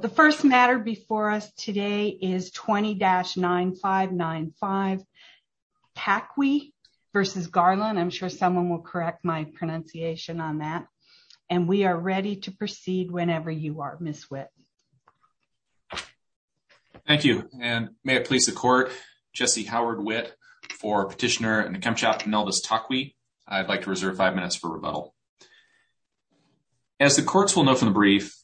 The first matter before us today is 20-9595 Takwi v. Garland, and we are ready to proceed whenever you are, Ms. Witt. Thank you, and may it please the Court, Jesse Howard Witt for Petitioner and the Kemp Chapter Nelvis Takwi. I'd like to reserve five minutes for rebuttal. As the Courts will know from the brief,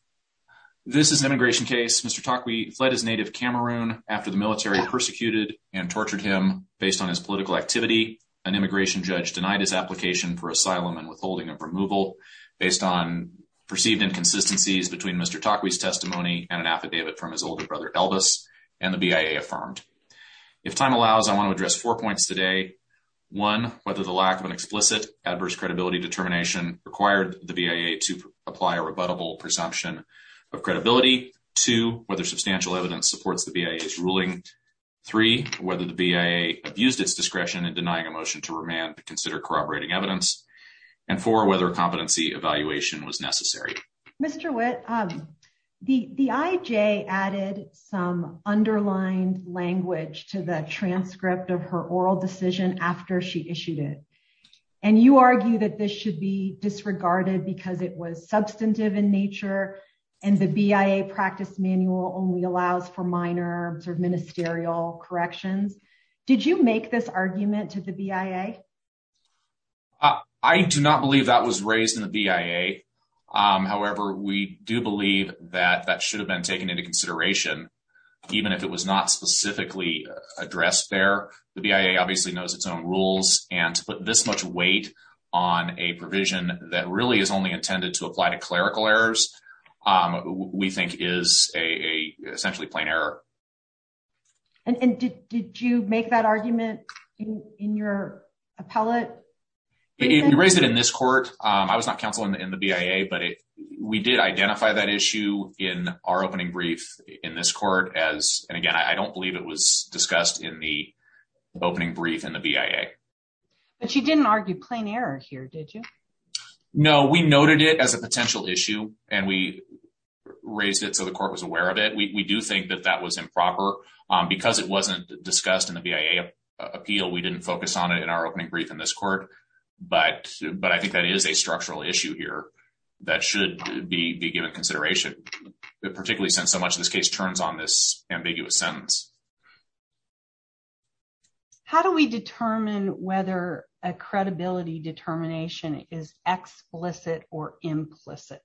this is an immigration case. Mr. Takwi fled his native Cameroon after the military persecuted and tortured him based on his political activity. An immigration judge denied his application for asylum and withholding of removal based on perceived inconsistencies between Mr. Takwi's testimony and an affidavit from his older brother, Elvis, and the BIA affirmed. If time allows, I want to address four points today, one, whether the lack of an explicit adverse credibility determination required the BIA to apply a rebuttable presumption of credibility, two, whether substantial evidence supports the BIA's ruling, three, whether the BIA abused its discretion in denying a motion to remand to consider corroborating evidence, and four, whether a competency evaluation was necessary. Mr. Witt, the IJ added some underlined language to the transcript of her oral decision after she issued it, and you argue that this should be disregarded because it was substantive in nature and the BIA practice manual only allows for minor sort of ministerial corrections. Did you make this argument to the BIA? I do not believe that was raised in the BIA, however, we do believe that that should have been taken into consideration, even if it was not specifically addressed there. The BIA obviously knows its own rules, and to put this much weight on a provision that really is only intended to apply to clerical errors, we think is a essentially plain error. And did you make that argument in your appellate? You raised it in this court. I was not counsel in the BIA, but we did identify that issue in our opening brief in this court as, and again, I don't believe it was discussed in the opening brief in the BIA. But you didn't argue plain error here, did you? No, we noted it as a potential issue, and we raised it so the court was aware of it. We do think that that was improper, because it wasn't discussed in the BIA appeal, we didn't focus on it in our opening brief in this court, but I think that is a structural issue here that should be given consideration, particularly since so much of this case turns on this ambiguous sentence. How do we determine whether a credibility determination is explicit or implicit?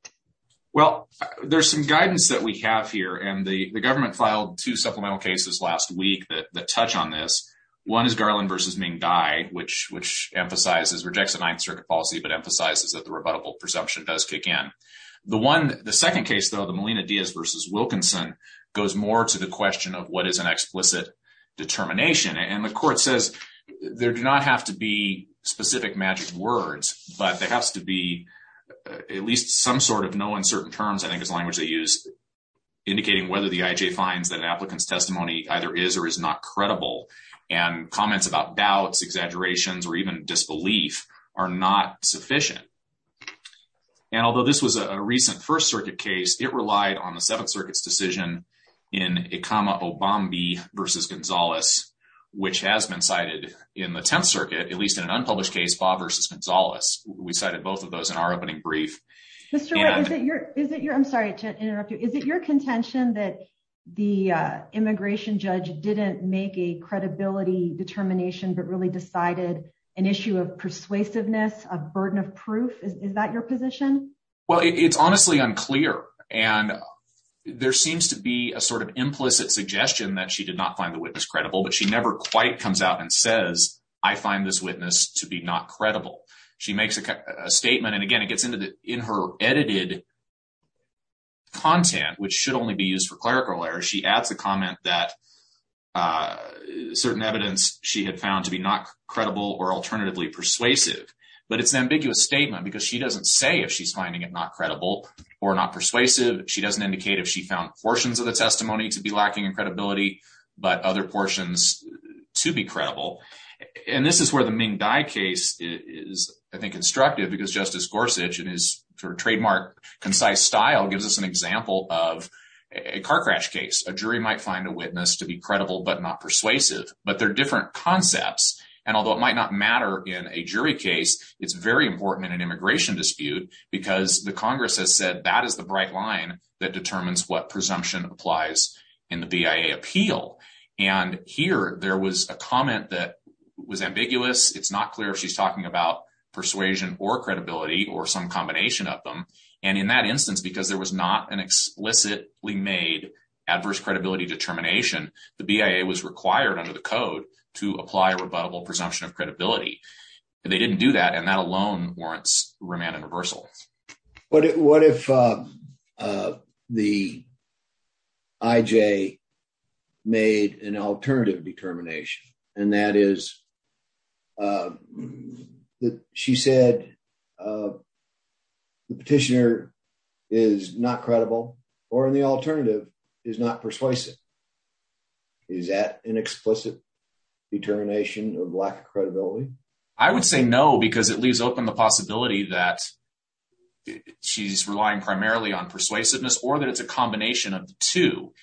Well, there's some guidance that we have here, and the government filed two supplemental cases last week that touch on this. One is Garland v. Ming Dai, which emphasizes, rejects the Ninth Circuit policy, but emphasizes that the rebuttable presumption does kick in. The second case, though, the Molina-Diaz v. Wilkinson, goes more to the question of what is an explicit determination, and the court says there do not have to be specific magic words, but there has to be at least some sort of no uncertain terms, I think is the language they use, indicating whether the IJ finds that an applicant's testimony either is or is not credible, and comments about doubts, exaggerations, or even disbelief are not sufficient. And although this was a recent First Circuit case, it relied on the Seventh Circuit's decision in Obambi v. Gonzalez, which has been cited in the Tenth Circuit, at least in an unpublished case, Favre v. Gonzalez. We cited both of those in our opening brief. Mr. Wright, is it your, I'm sorry to interrupt you, is it your contention that the immigration judge didn't make a credibility determination, but really decided an issue of persuasiveness, a burden of proof, is that your position? Well, it's honestly unclear, and there seems to be a sort of implicit suggestion that she did not find the witness credible, but she never quite comes out and says, I find this witness to be not credible. She makes a statement, and again, it gets into the, in her edited content, which should only be used for clerical errors, she adds a comment that certain evidence she had found to be not credible or alternatively persuasive. But it's an ambiguous statement, because she doesn't say if she's finding it not credible or not persuasive. She doesn't indicate if she found portions of the testimony to be lacking in credibility, but other portions to be credible. And this is where the Ming Dai case is, I think, instructive, because Justice Gorsuch in his trademark concise style gives us an example of a car crash case. A jury might find a witness to be credible but not persuasive. But they're different concepts, and although it might not matter in a jury case, it's very important in an immigration dispute, because the Congress has said that is the bright line that determines what presumption applies in the BIA appeal. And here, there was a comment that was ambiguous, it's not clear if she's talking about persuasion or credibility or some combination of them, and in that instance, because there was not an explicitly made adverse credibility determination, the BIA was required under the code to apply a rebuttable presumption of credibility, and they didn't do that, and that alone warrants remand and reversal. What if the IJ made an alternative determination, and that is that she said the petitioner is not credible, or in the alternative, is not persuasive? Is that an explicit determination of lack of credibility? I would say no, because it leaves open the possibility that she's relying primarily on persuasiveness or that it's a combination of the two.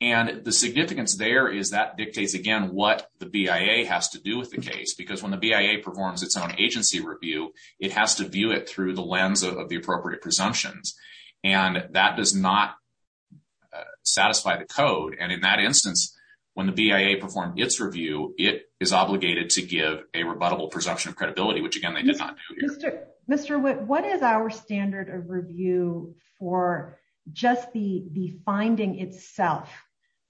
And the significance there is that dictates, again, what the BIA has to do with the case, because when the BIA performs its own agency review, it has to view it through the lens of the appropriate presumptions, and that does not satisfy the code, and in that instance, when the BIA performed its review, it is obligated to give a rebuttable presumption of credibility, which again, they did not do here. Mr. Witt, what is our standard of review for just the finding itself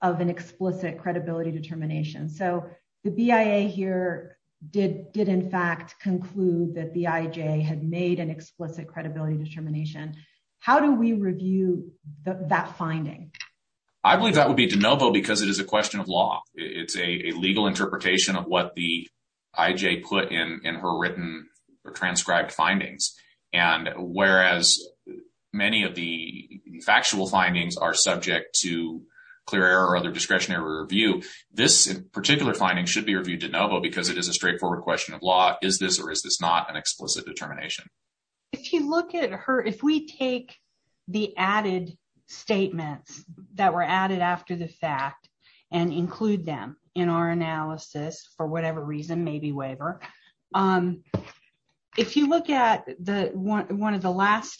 of an explicit credibility determination? So the BIA here did, in fact, conclude that the IJ had made an explicit credibility determination. How do we review that finding? I believe that would be de novo because it is a question of law. It's a legal interpretation of what the IJ put in her written or transcribed findings. And whereas many of the factual findings are subject to clear error or other discretionary review, this particular finding should be reviewed de novo because it is a straightforward question of law. Is this or is this not an explicit determination? If you look at her, if we take the added statements that were added after the fact and include them in our analysis for whatever reason, maybe waiver, if you look at one of the last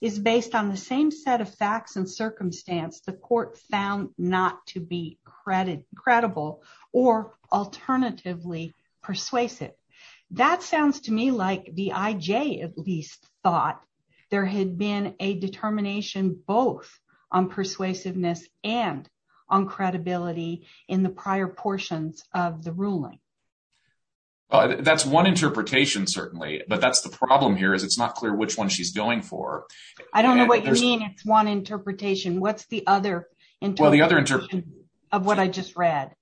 is based on the same set of facts and circumstance the court found not to be credible or alternatively persuasive. That sounds to me like the IJ at least thought there had been a determination both on persuasiveness and on credibility in the prior portions of the ruling. That's one interpretation, certainly, but that's the problem here is it's not clear which one she's going for. I don't know what you mean it's one interpretation. What's the other interpretation of what I just read?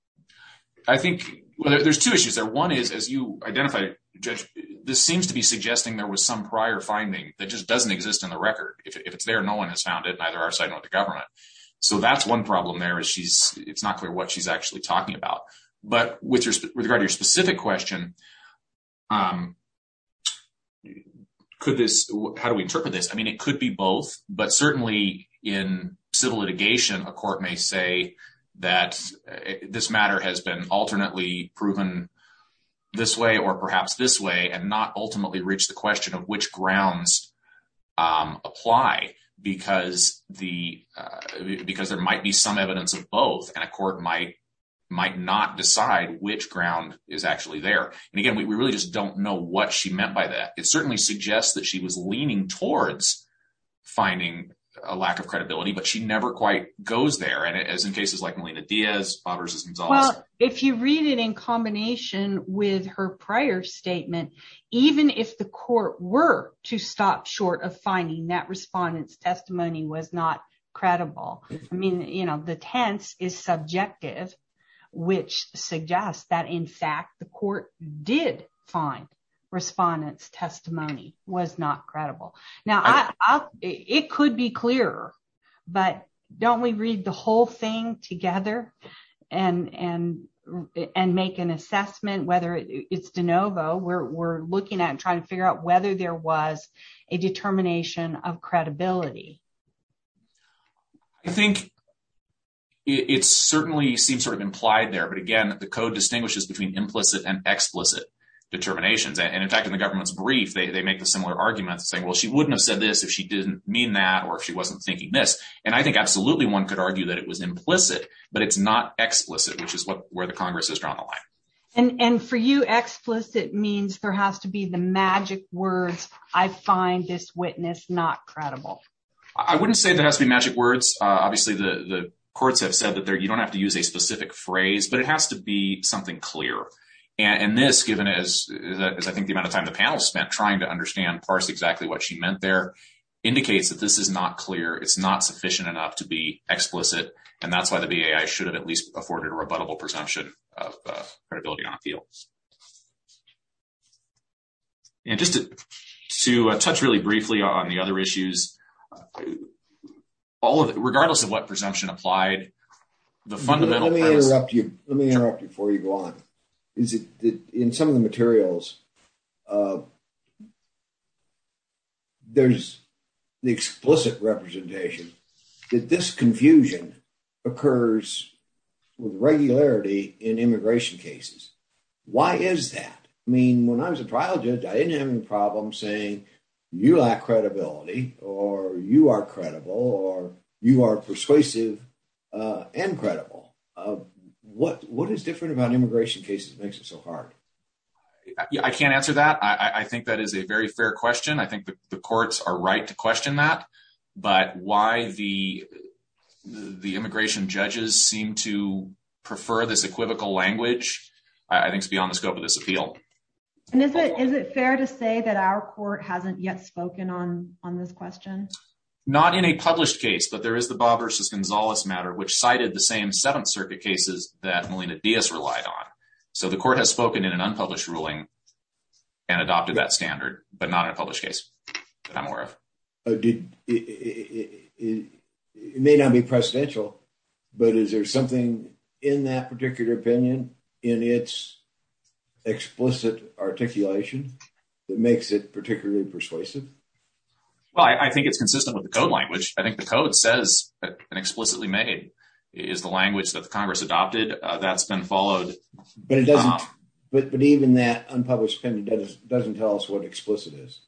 I think there's two issues there. One is as you identified, Judge, this seems to be suggesting there was some prior finding that just doesn't exist in the record. If it's there, no one has found it, neither our side nor the government. So that's one problem there is it's not clear what she's actually talking about. But with regard to your specific question, how do we interpret this? It could be both, but certainly in civil litigation, a court may say that this matter has been alternately proven this way or perhaps this way and not ultimately reach the question of which grounds apply because there might be some evidence of both and a court might not decide which ground is actually there. And again, we really just don't know what she meant by that. It certainly suggests that she was leaning towards finding a lack of credibility, but she never quite goes there. And as in cases like Melina Diaz v. Gonzales. Well, if you read it in combination with her prior statement, even if the court were to stop short of finding that respondent's testimony was not credible, I mean, you know, the tense is subjective, which suggests that, in fact, the court did find respondent's testimony was not credible. Now, it could be clearer, but don't we read the whole thing together and make an assessment whether it's de novo? We're looking at trying to figure out whether there was a determination of credibility. I think it certainly seems sort of implied there. But again, the code distinguishes between implicit and explicit determinations. And in fact, in the government's brief, they make the similar arguments saying, well, she wouldn't have said this if she didn't mean that or if she wasn't thinking this. And I think absolutely one could argue that it was implicit, but it's not explicit, which is where the Congress has drawn the line. And for you, explicit means there has to be the magic words, I find this witness not credible. I wouldn't say there has to be magic words. Obviously, the courts have said that you don't have to use a specific phrase, but it has to be something clear. And this, given as I think the amount of time the panel spent trying to understand, parse exactly what she meant there, indicates that this is not clear. It's not sufficient enough to be explicit. And that's why the BAI should have at least afforded a rebuttable presumption of credibility on appeal. And just to touch really briefly on the other issues, all of it, regardless of what presumption applied, the fundamental premise- Let me interrupt you before you go on, is that in some of the materials, there's the explicit representation that this confusion occurs with regularity in immigration cases. Why is that? I mean, when I was a trial judge, I didn't have any problem saying you lack credibility or you are credible or you are persuasive and credible. What is different about immigration cases makes it so hard? I can't answer that. I think that is a very fair question. I think the courts are right to question that. But why the immigration judges seem to prefer this equivocal language, I think is beyond the scope of this appeal. And is it fair to say that our court hasn't yet spoken on this question? Not in a published case, but there is the Bob versus Gonzalez matter, which cited the same Seventh Circuit cases that Melina Diaz relied on. So the court has spoken in an unpublished ruling and adopted that standard, but not in a published case that I'm aware of. Did it may not be presidential, but is there something in that particular opinion in its explicit articulation that makes it particularly persuasive? Well, I think it's consistent with the code language. I think the code says and explicitly made is the language that the Congress adopted that's been followed. But even that unpublished opinion doesn't tell us what explicit is.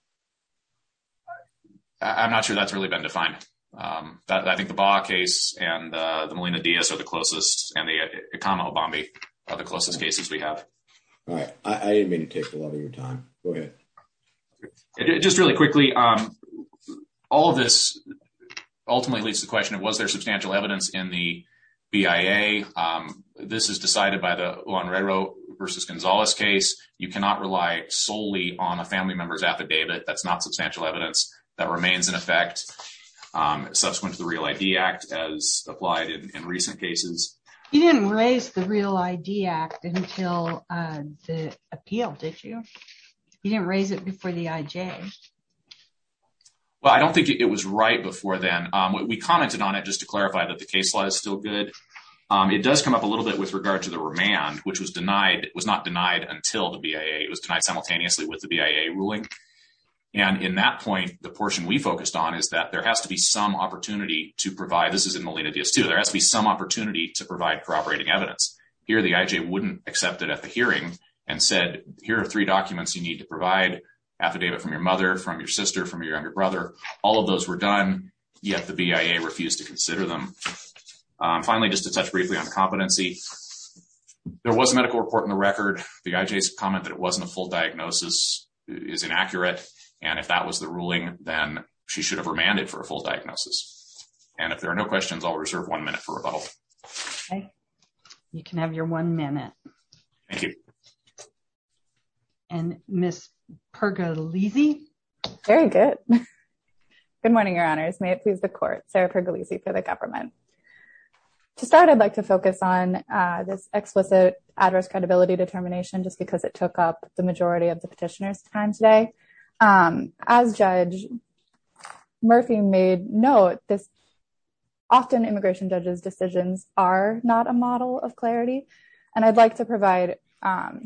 I'm not sure that's really been defined. I think the case and the Melina Diaz are the closest and the Obama are the closest cases we have. All right, I didn't mean to take a lot of your time. Go ahead. Just really quickly, all of this ultimately leads to the question of was there substantial evidence in the BIA? This is decided by the red row versus Gonzalez case. You cannot rely solely on a family member's affidavit. That's not substantial evidence that remains in effect subsequent to the Real ID Act as applied in recent cases. You didn't raise the Real ID Act until the appeal, did you? You didn't raise it before the IJ. Well, I don't think it was right before then. We commented on it just to clarify that the case law is still good. It does come up a little bit with regard to the remand, which was denied, was not denied until the BIA. It was denied simultaneously with the BIA ruling. And in that point, the portion we focused on is that there has to be some opportunity to provide. This is in the Lena Diaz too. There has to be some opportunity to provide cooperating evidence. Here the IJ wouldn't accept it at the hearing and said, here are three documents you need to provide, affidavit from your mother, from your sister, from your younger brother. All of those were done, yet the BIA refused to consider them. Finally, just to touch briefly on competency, there was a medical report in the record. The IJ's comment that it wasn't a full diagnosis is inaccurate. If that was the ruling, then she should have remanded for a full diagnosis. If there are no questions, I'll reserve one minute for rebuttal. You can have your one minute. Thank you. And Ms. Pergolesi? Very good. Good morning, your honors. May it please the court. Sarah Pergolesi for the government. To start, I'd like to focus on this explicit address credibility determination just because it took up the majority of the petitioner's time today. As Judge Murphy made note, often immigration judges' decisions are not a model of clarity. And I'd like to provide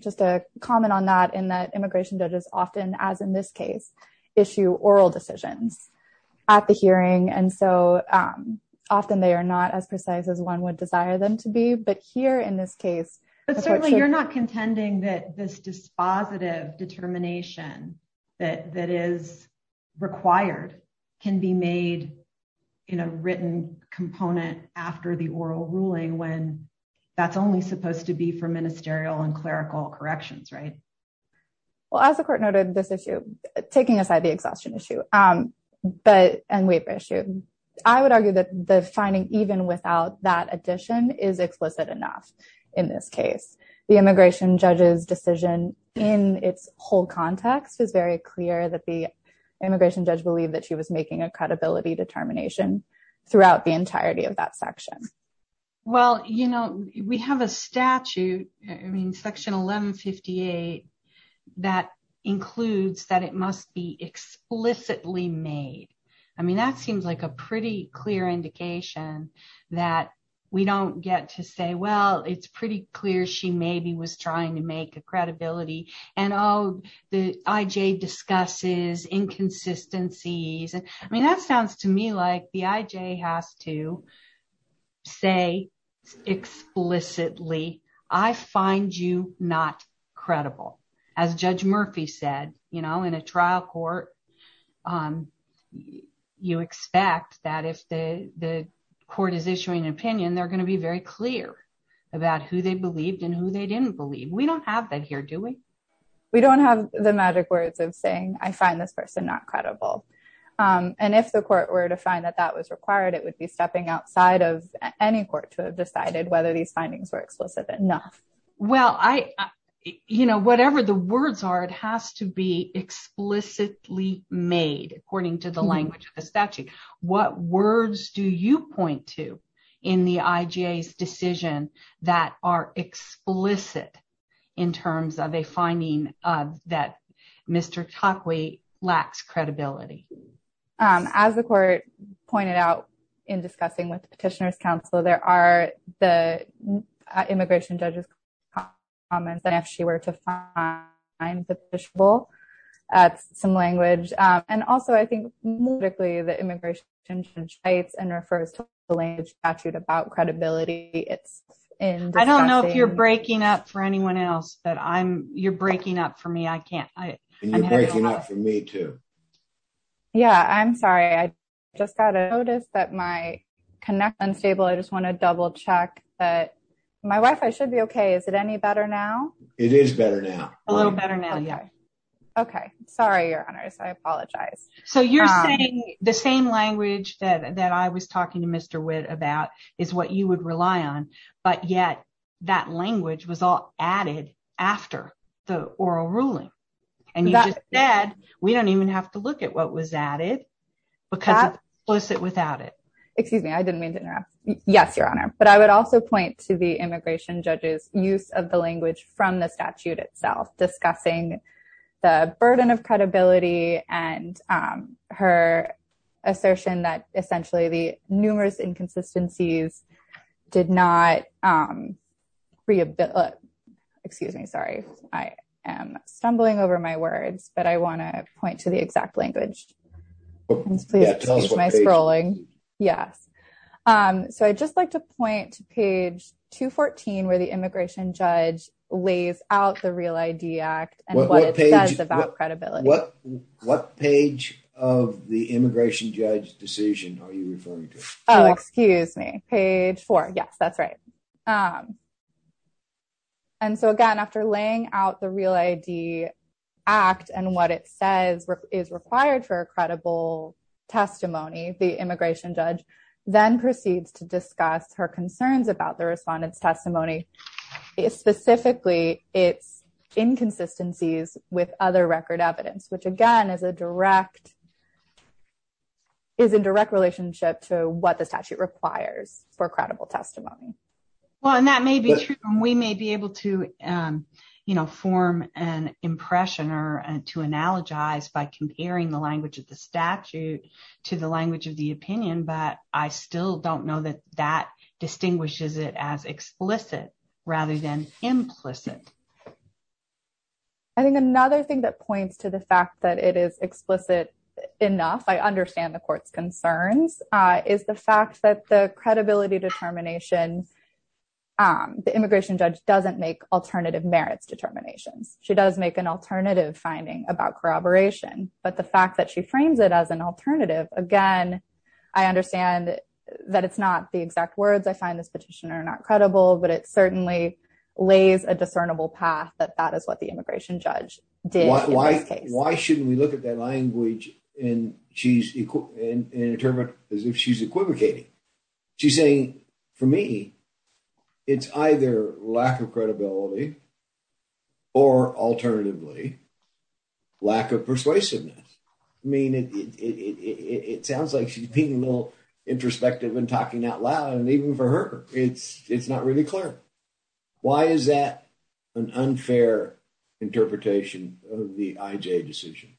just a comment on that in that immigration judges often, as in this case, issue oral decisions at the hearing. And so often they are not as precise as one would desire them to be. But here in this case. But certainly you're not contending that this dispositive determination that that is required can be made in a written component after the oral ruling when that's only supposed to be for ministerial and clerical corrections, right? Well, as the court noted this issue, taking aside the exhaustion issue and waiver issue, I would argue that the finding even without that addition is explicit enough. In this case, the immigration judge's decision in its whole context is very clear that the immigration judge believed that she was making a credibility determination throughout the entirety of that section. Well, you know, we have a statute, I mean, section 1158, that includes that it must be explicitly made. I mean, that seems like a pretty clear indication that we don't get to say, well, it's pretty clear she maybe was trying to make a credibility. And oh, the IJ discusses inconsistencies. And I mean, that sounds to me like the IJ has to say explicitly, I find you not credible. As Judge Murphy said, you know, in a trial court, you expect that if the court is issuing an opinion, they're going to be very clear about who they believed and who they didn't believe. We don't have that here, do we? We don't have the magic words of saying, I find this person not credible. And if the court were to find that that was required, it would be stepping outside of any court to have decided whether these findings were explicit enough. Well, I, you know, whatever the words are, it has to be explicitly made according to the language of the statute. What words do you point to in the IJ's decision that are explicit in terms of a finding that Mr. Takwe lacks credibility? As the court pointed out in discussing with the Petitioner's Counsel, there are the immigration judge's comments that if she were to find the fishbowl, that's some language. And also, I think politically, the immigration judge writes and refers to the language of the statute about credibility. It's in discussion. I don't know if you're breaking up for anyone else, but you're breaking up for me. I can't. You're breaking up for me, too. Yeah, I'm sorry. I just got a notice that my connection is unstable. I just want to double check that my Wi-Fi should be okay. Is it any better now? It is better now. A little better now. Yeah. Okay. Sorry, Your Honor. I apologize. So you're saying the same language that I was talking to Mr. Witt about is what you would rely on. But yet that language was all added after the oral ruling. And you just said we don't even have to look at what was added because it's explicit without it. Excuse me. I didn't mean to interrupt. Yes, Your Honor. But I would also point to the immigration judge's use of the language from the statute itself, discussing the burden of credibility and her assertion that essentially the numerous inconsistencies did not rehabilitate. Excuse me. Sorry. I am stumbling over my words, but I want to point to the exact language. My scrolling. Yes. So I'd just like to point to page 214 where the immigration judge lays out the Real ID Act and what it says about credibility. What page of the immigration judge's decision are you referring to? Oh, excuse me. Page four. Yes, that's right. And so, again, after laying out the Real ID Act and what it says is required for a then proceeds to discuss her concerns about the respondent's testimony, specifically its inconsistencies with other record evidence, which, again, is a direct is in direct relationship to what the statute requires for credible testimony. Well, and that may be true. We may be able to form an impression or to analogize by comparing the language of the still don't know that that distinguishes it as explicit rather than implicit. I think another thing that points to the fact that it is explicit enough, I understand the court's concerns is the fact that the credibility determination, the immigration judge doesn't make alternative merits determinations. She does make an alternative finding about corroboration, but the fact that she frames it as an alternative. Again, I understand that it's not the exact words. I find this petition are not credible, but it certainly lays a discernible path that that is what the immigration judge did. Why shouldn't we look at that language? And she's in a term as if she's equivocating. She's saying, for me, it's either lack of credibility or alternatively, lack of persuasiveness. I mean, it sounds like she's being a little introspective and talking out loud. And even for her, it's not really clear. Why is that an unfair interpretation of the IJ decision?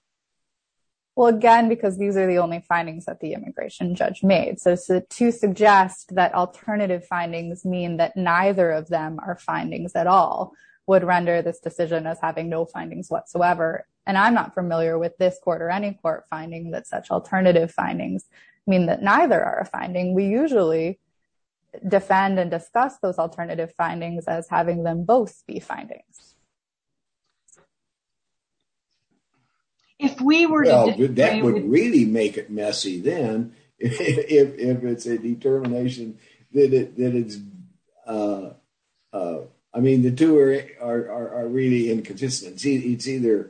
Well, again, because these are the only findings that the immigration judge made. So to suggest that alternative findings mean that neither of them are findings at all would render this decision as having no findings whatsoever. And I'm not familiar with this court or any court finding that such alternative findings mean that neither are a finding. We usually defend and discuss those alternative findings as having them both be findings. If we were to do that would really make it messy then if it's a determination that it's I mean, the two are really inconsistency. It's either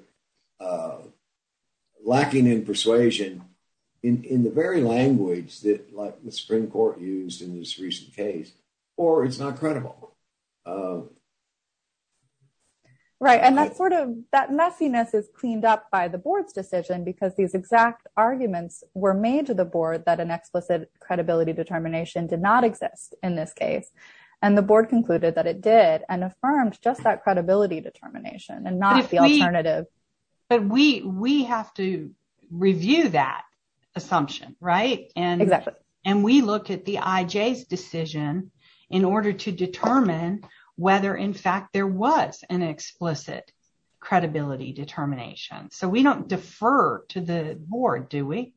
lacking in persuasion in the very language that the Supreme Court used in this recent case, or it's not credible. Right. And that's sort of that messiness is cleaned up by the board's decision, because these exact arguments were made to the board that an explicit credibility determination did not exist in this case. And the board concluded that it did and affirmed just that credibility determination and not the alternative. But we have to review that assumption, right? Exactly. And we look at the IJ's decision in order to determine whether, in fact, there was an explicit credibility determination. So we don't defer to the board, do we?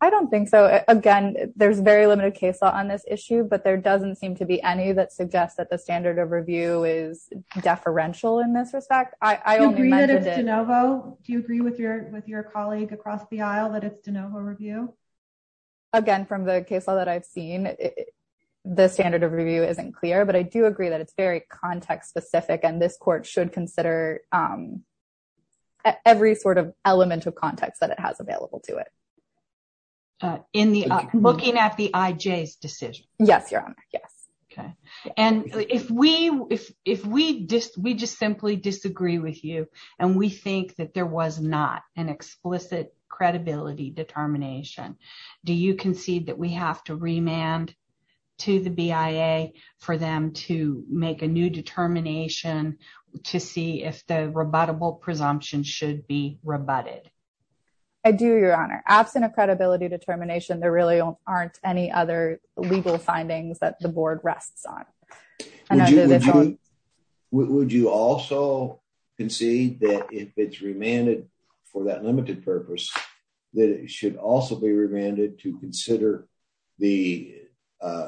I don't think so. Again, there's very limited case law on this issue, but there doesn't seem to be any that is deferential in this respect. Do you agree that it's de novo? Do you agree with your colleague across the aisle that it's de novo review? Again, from the case law that I've seen, the standard of review isn't clear, but I do agree that it's very context specific. And this court should consider every sort of element of context that it has available to it. Looking at the IJ's decision. Yes, Your Honor. Yes. Okay. And if we just simply disagree with you, and we think that there was not an explicit credibility determination, do you concede that we have to remand to the BIA for them to make a new determination to see if the rebuttable presumption should be rebutted? I do, Your Honor. Absent of credibility determination, there really aren't any other legal findings that the board rests on. Would you also concede that if it's remanded for that limited purpose, that it should also be remanded to consider the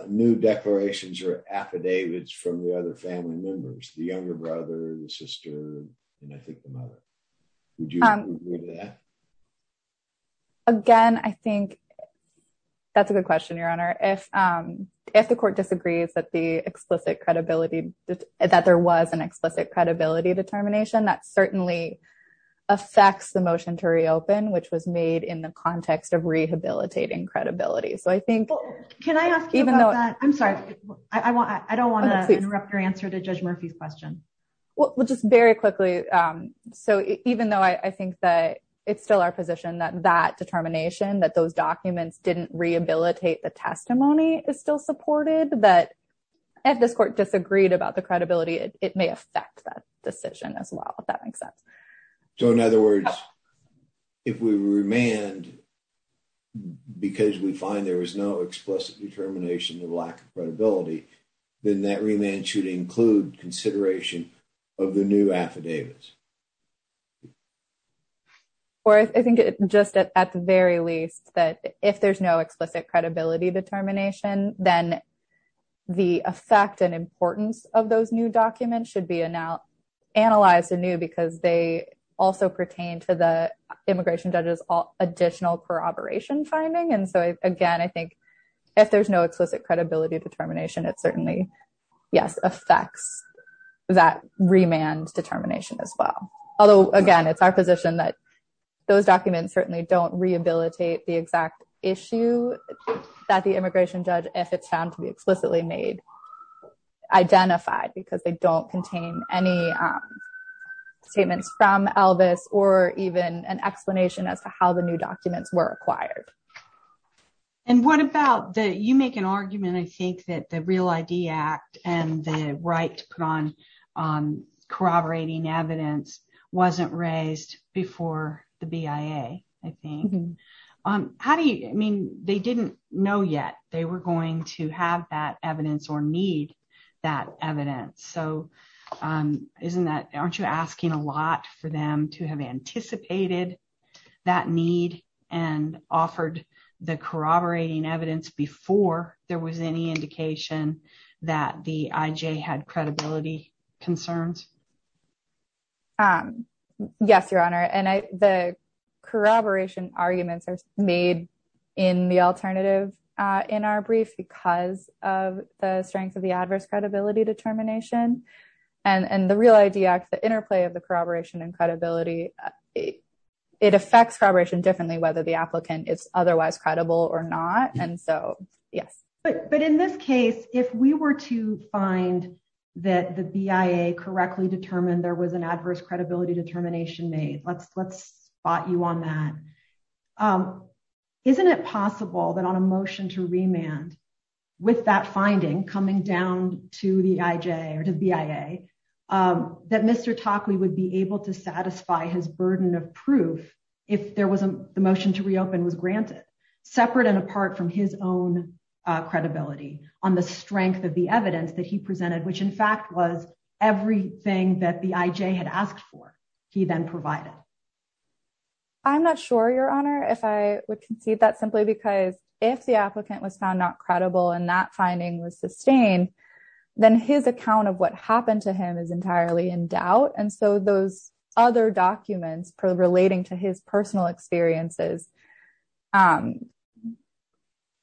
new declarations or affidavits from the other family members, the younger brother, the sister, and I think the mother. Would you agree to that? Again, I think that's a good question, Your Honor. If the court disagrees that there was an explicit credibility determination, that certainly affects the motion to reopen, which was made in the context of rehabilitating credibility. So I think- Can I ask you about that? I'm sorry, I don't want to interrupt your answer to Judge Murphy's question. Well, just very quickly. So even though I think that it's still our position that that determination, that those documents didn't rehabilitate the testimony is still supported, that if this court disagreed about the credibility, it may affect that decision as well, if that makes sense. So in other words, if we remand because we find there was no explicit determination of new affidavits. Or I think just at the very least that if there's no explicit credibility determination, then the effect and importance of those new documents should be analyzed anew because they also pertain to the immigration judge's additional corroboration finding. And so, again, I think if there's no explicit credibility determination, it certainly, yes, affects that remand determination as well. Although, again, it's our position that those documents certainly don't rehabilitate the exact issue that the immigration judge, if it's found to be explicitly made, identified because they don't contain any statements from Elvis or even an explanation as to how the new documents were acquired. And what about that? You make an argument, I think, that the Real ID Act and the right to put on corroborating evidence wasn't raised before the BIA, I think. How do you, I mean, they didn't know yet they were going to have that evidence or need that evidence. So aren't you asking a lot for them to have anticipated that need and offered the corroborating evidence before there was any indication that the IJ had credibility concerns? Yes, Your Honor, and the corroboration arguments are made in the alternative in our brief because of the strength of the adverse credibility determination. And the Real ID Act, the interplay of the corroboration and credibility it affects corroboration differently whether the applicant is otherwise credible or not. And so, yes. But in this case, if we were to find that the BIA correctly determined there was an adverse credibility determination made, let's spot you on that. Isn't it possible that on a motion to remand with that finding coming down to the IJ or the BIA that Mr. Tockley would be able to satisfy his burden of proof if there was a motion to reopen was granted separate and apart from his own credibility on the strength of the evidence that he presented, which in fact was everything that the IJ had asked for, he then provided? I'm not sure, Your Honor, if I would concede that simply because if the applicant was found not credible and that finding was sustained, then his account of what happened to him is entirely in doubt. And so, those other documents relating to his personal experiences, I'm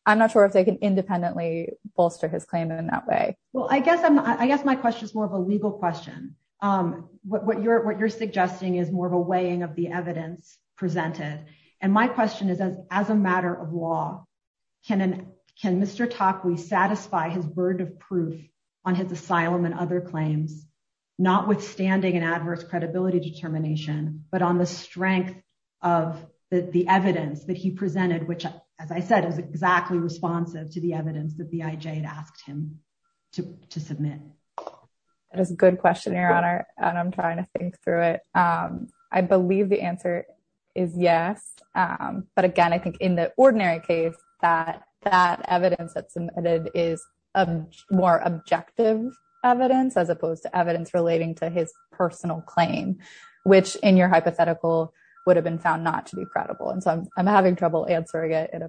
not sure if they can independently bolster his claim in that way. Well, I guess my question is more of a legal question. What you're suggesting is more of a weighing of the evidence presented. And my question is, as a matter of law, can Mr. Tockley satisfy his burden of proof on his asylum and other claims, notwithstanding an adverse credibility determination, but on the strength of the evidence that he presented, which, as I said, is exactly responsive to the evidence that the IJ had asked him to submit? That is a good question, Your Honor, and I'm trying to think through it. I believe the answer is yes. But again, I think in the ordinary case, that evidence that's submitted is more objective evidence as opposed to evidence relating to his personal claim, which in your hypothetical would have been found not to be credible. And so, I'm having trouble answering it in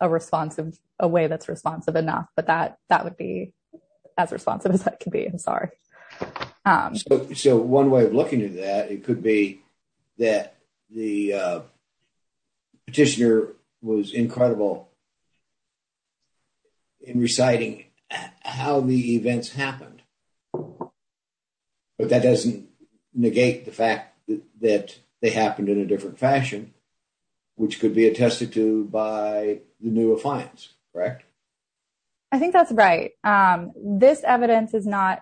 a way that's responsive enough, but that would be as responsive as that can be. I'm sorry. So, one way of looking at that, it could be that the petitioner was incredible in reciting how the events happened. But that doesn't negate the fact that they happened in a different fashion, which could be attested to by the new affiance, correct? I think that's right. This evidence is not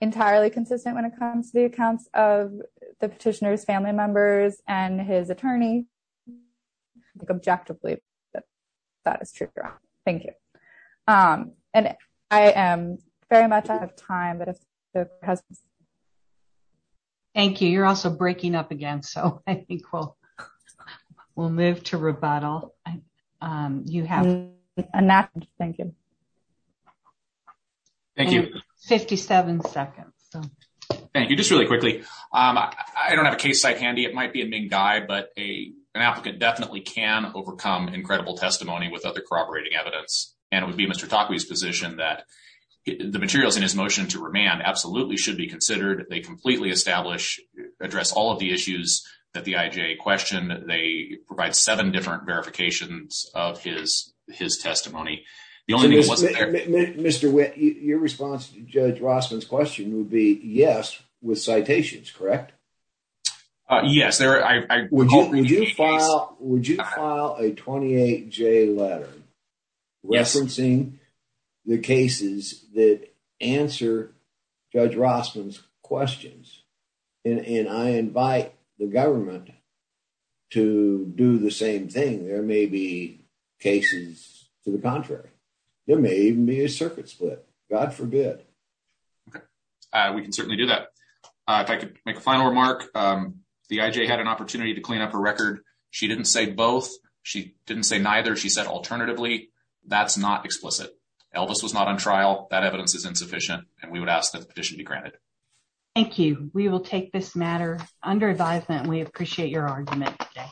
entirely consistent when it comes to the accounts of the petitioner's family members and his attorney. Objectively, that is true, Your Honor. Thank you. And I am very much out of time. Thank you. You're also breaking up again, so I think we'll move to rebuttal. And you have a nap. Thank you. Thank you. 57 seconds. Thank you. Just really quickly. I don't have a case site handy. It might be a big guy, but an applicant definitely can overcome incredible testimony without the corroborating evidence. And it would be Mr. Takui's position that the materials in his motion to remand absolutely should be considered. They completely establish, address all of the issues that the IJA questioned. They provide seven different verifications of his testimony. Mr. Witt, your response to Judge Rossman's question would be yes with citations, correct? Yes. Would you file a 28-J letter referencing the cases that answer Judge Rossman's questions? And I invite the government to do the same thing. There may be cases to the contrary. There may even be a circuit split. God forbid. Okay, we can certainly do that. If I could make a final remark, the IJA had an opportunity to clean up her record. She didn't say both. She didn't say neither. She said, alternatively, that's not explicit. Elvis was not on trial. That evidence is insufficient, and we would ask that the petition be granted. Thank you. We will take this matter under advisement. We appreciate your argument today.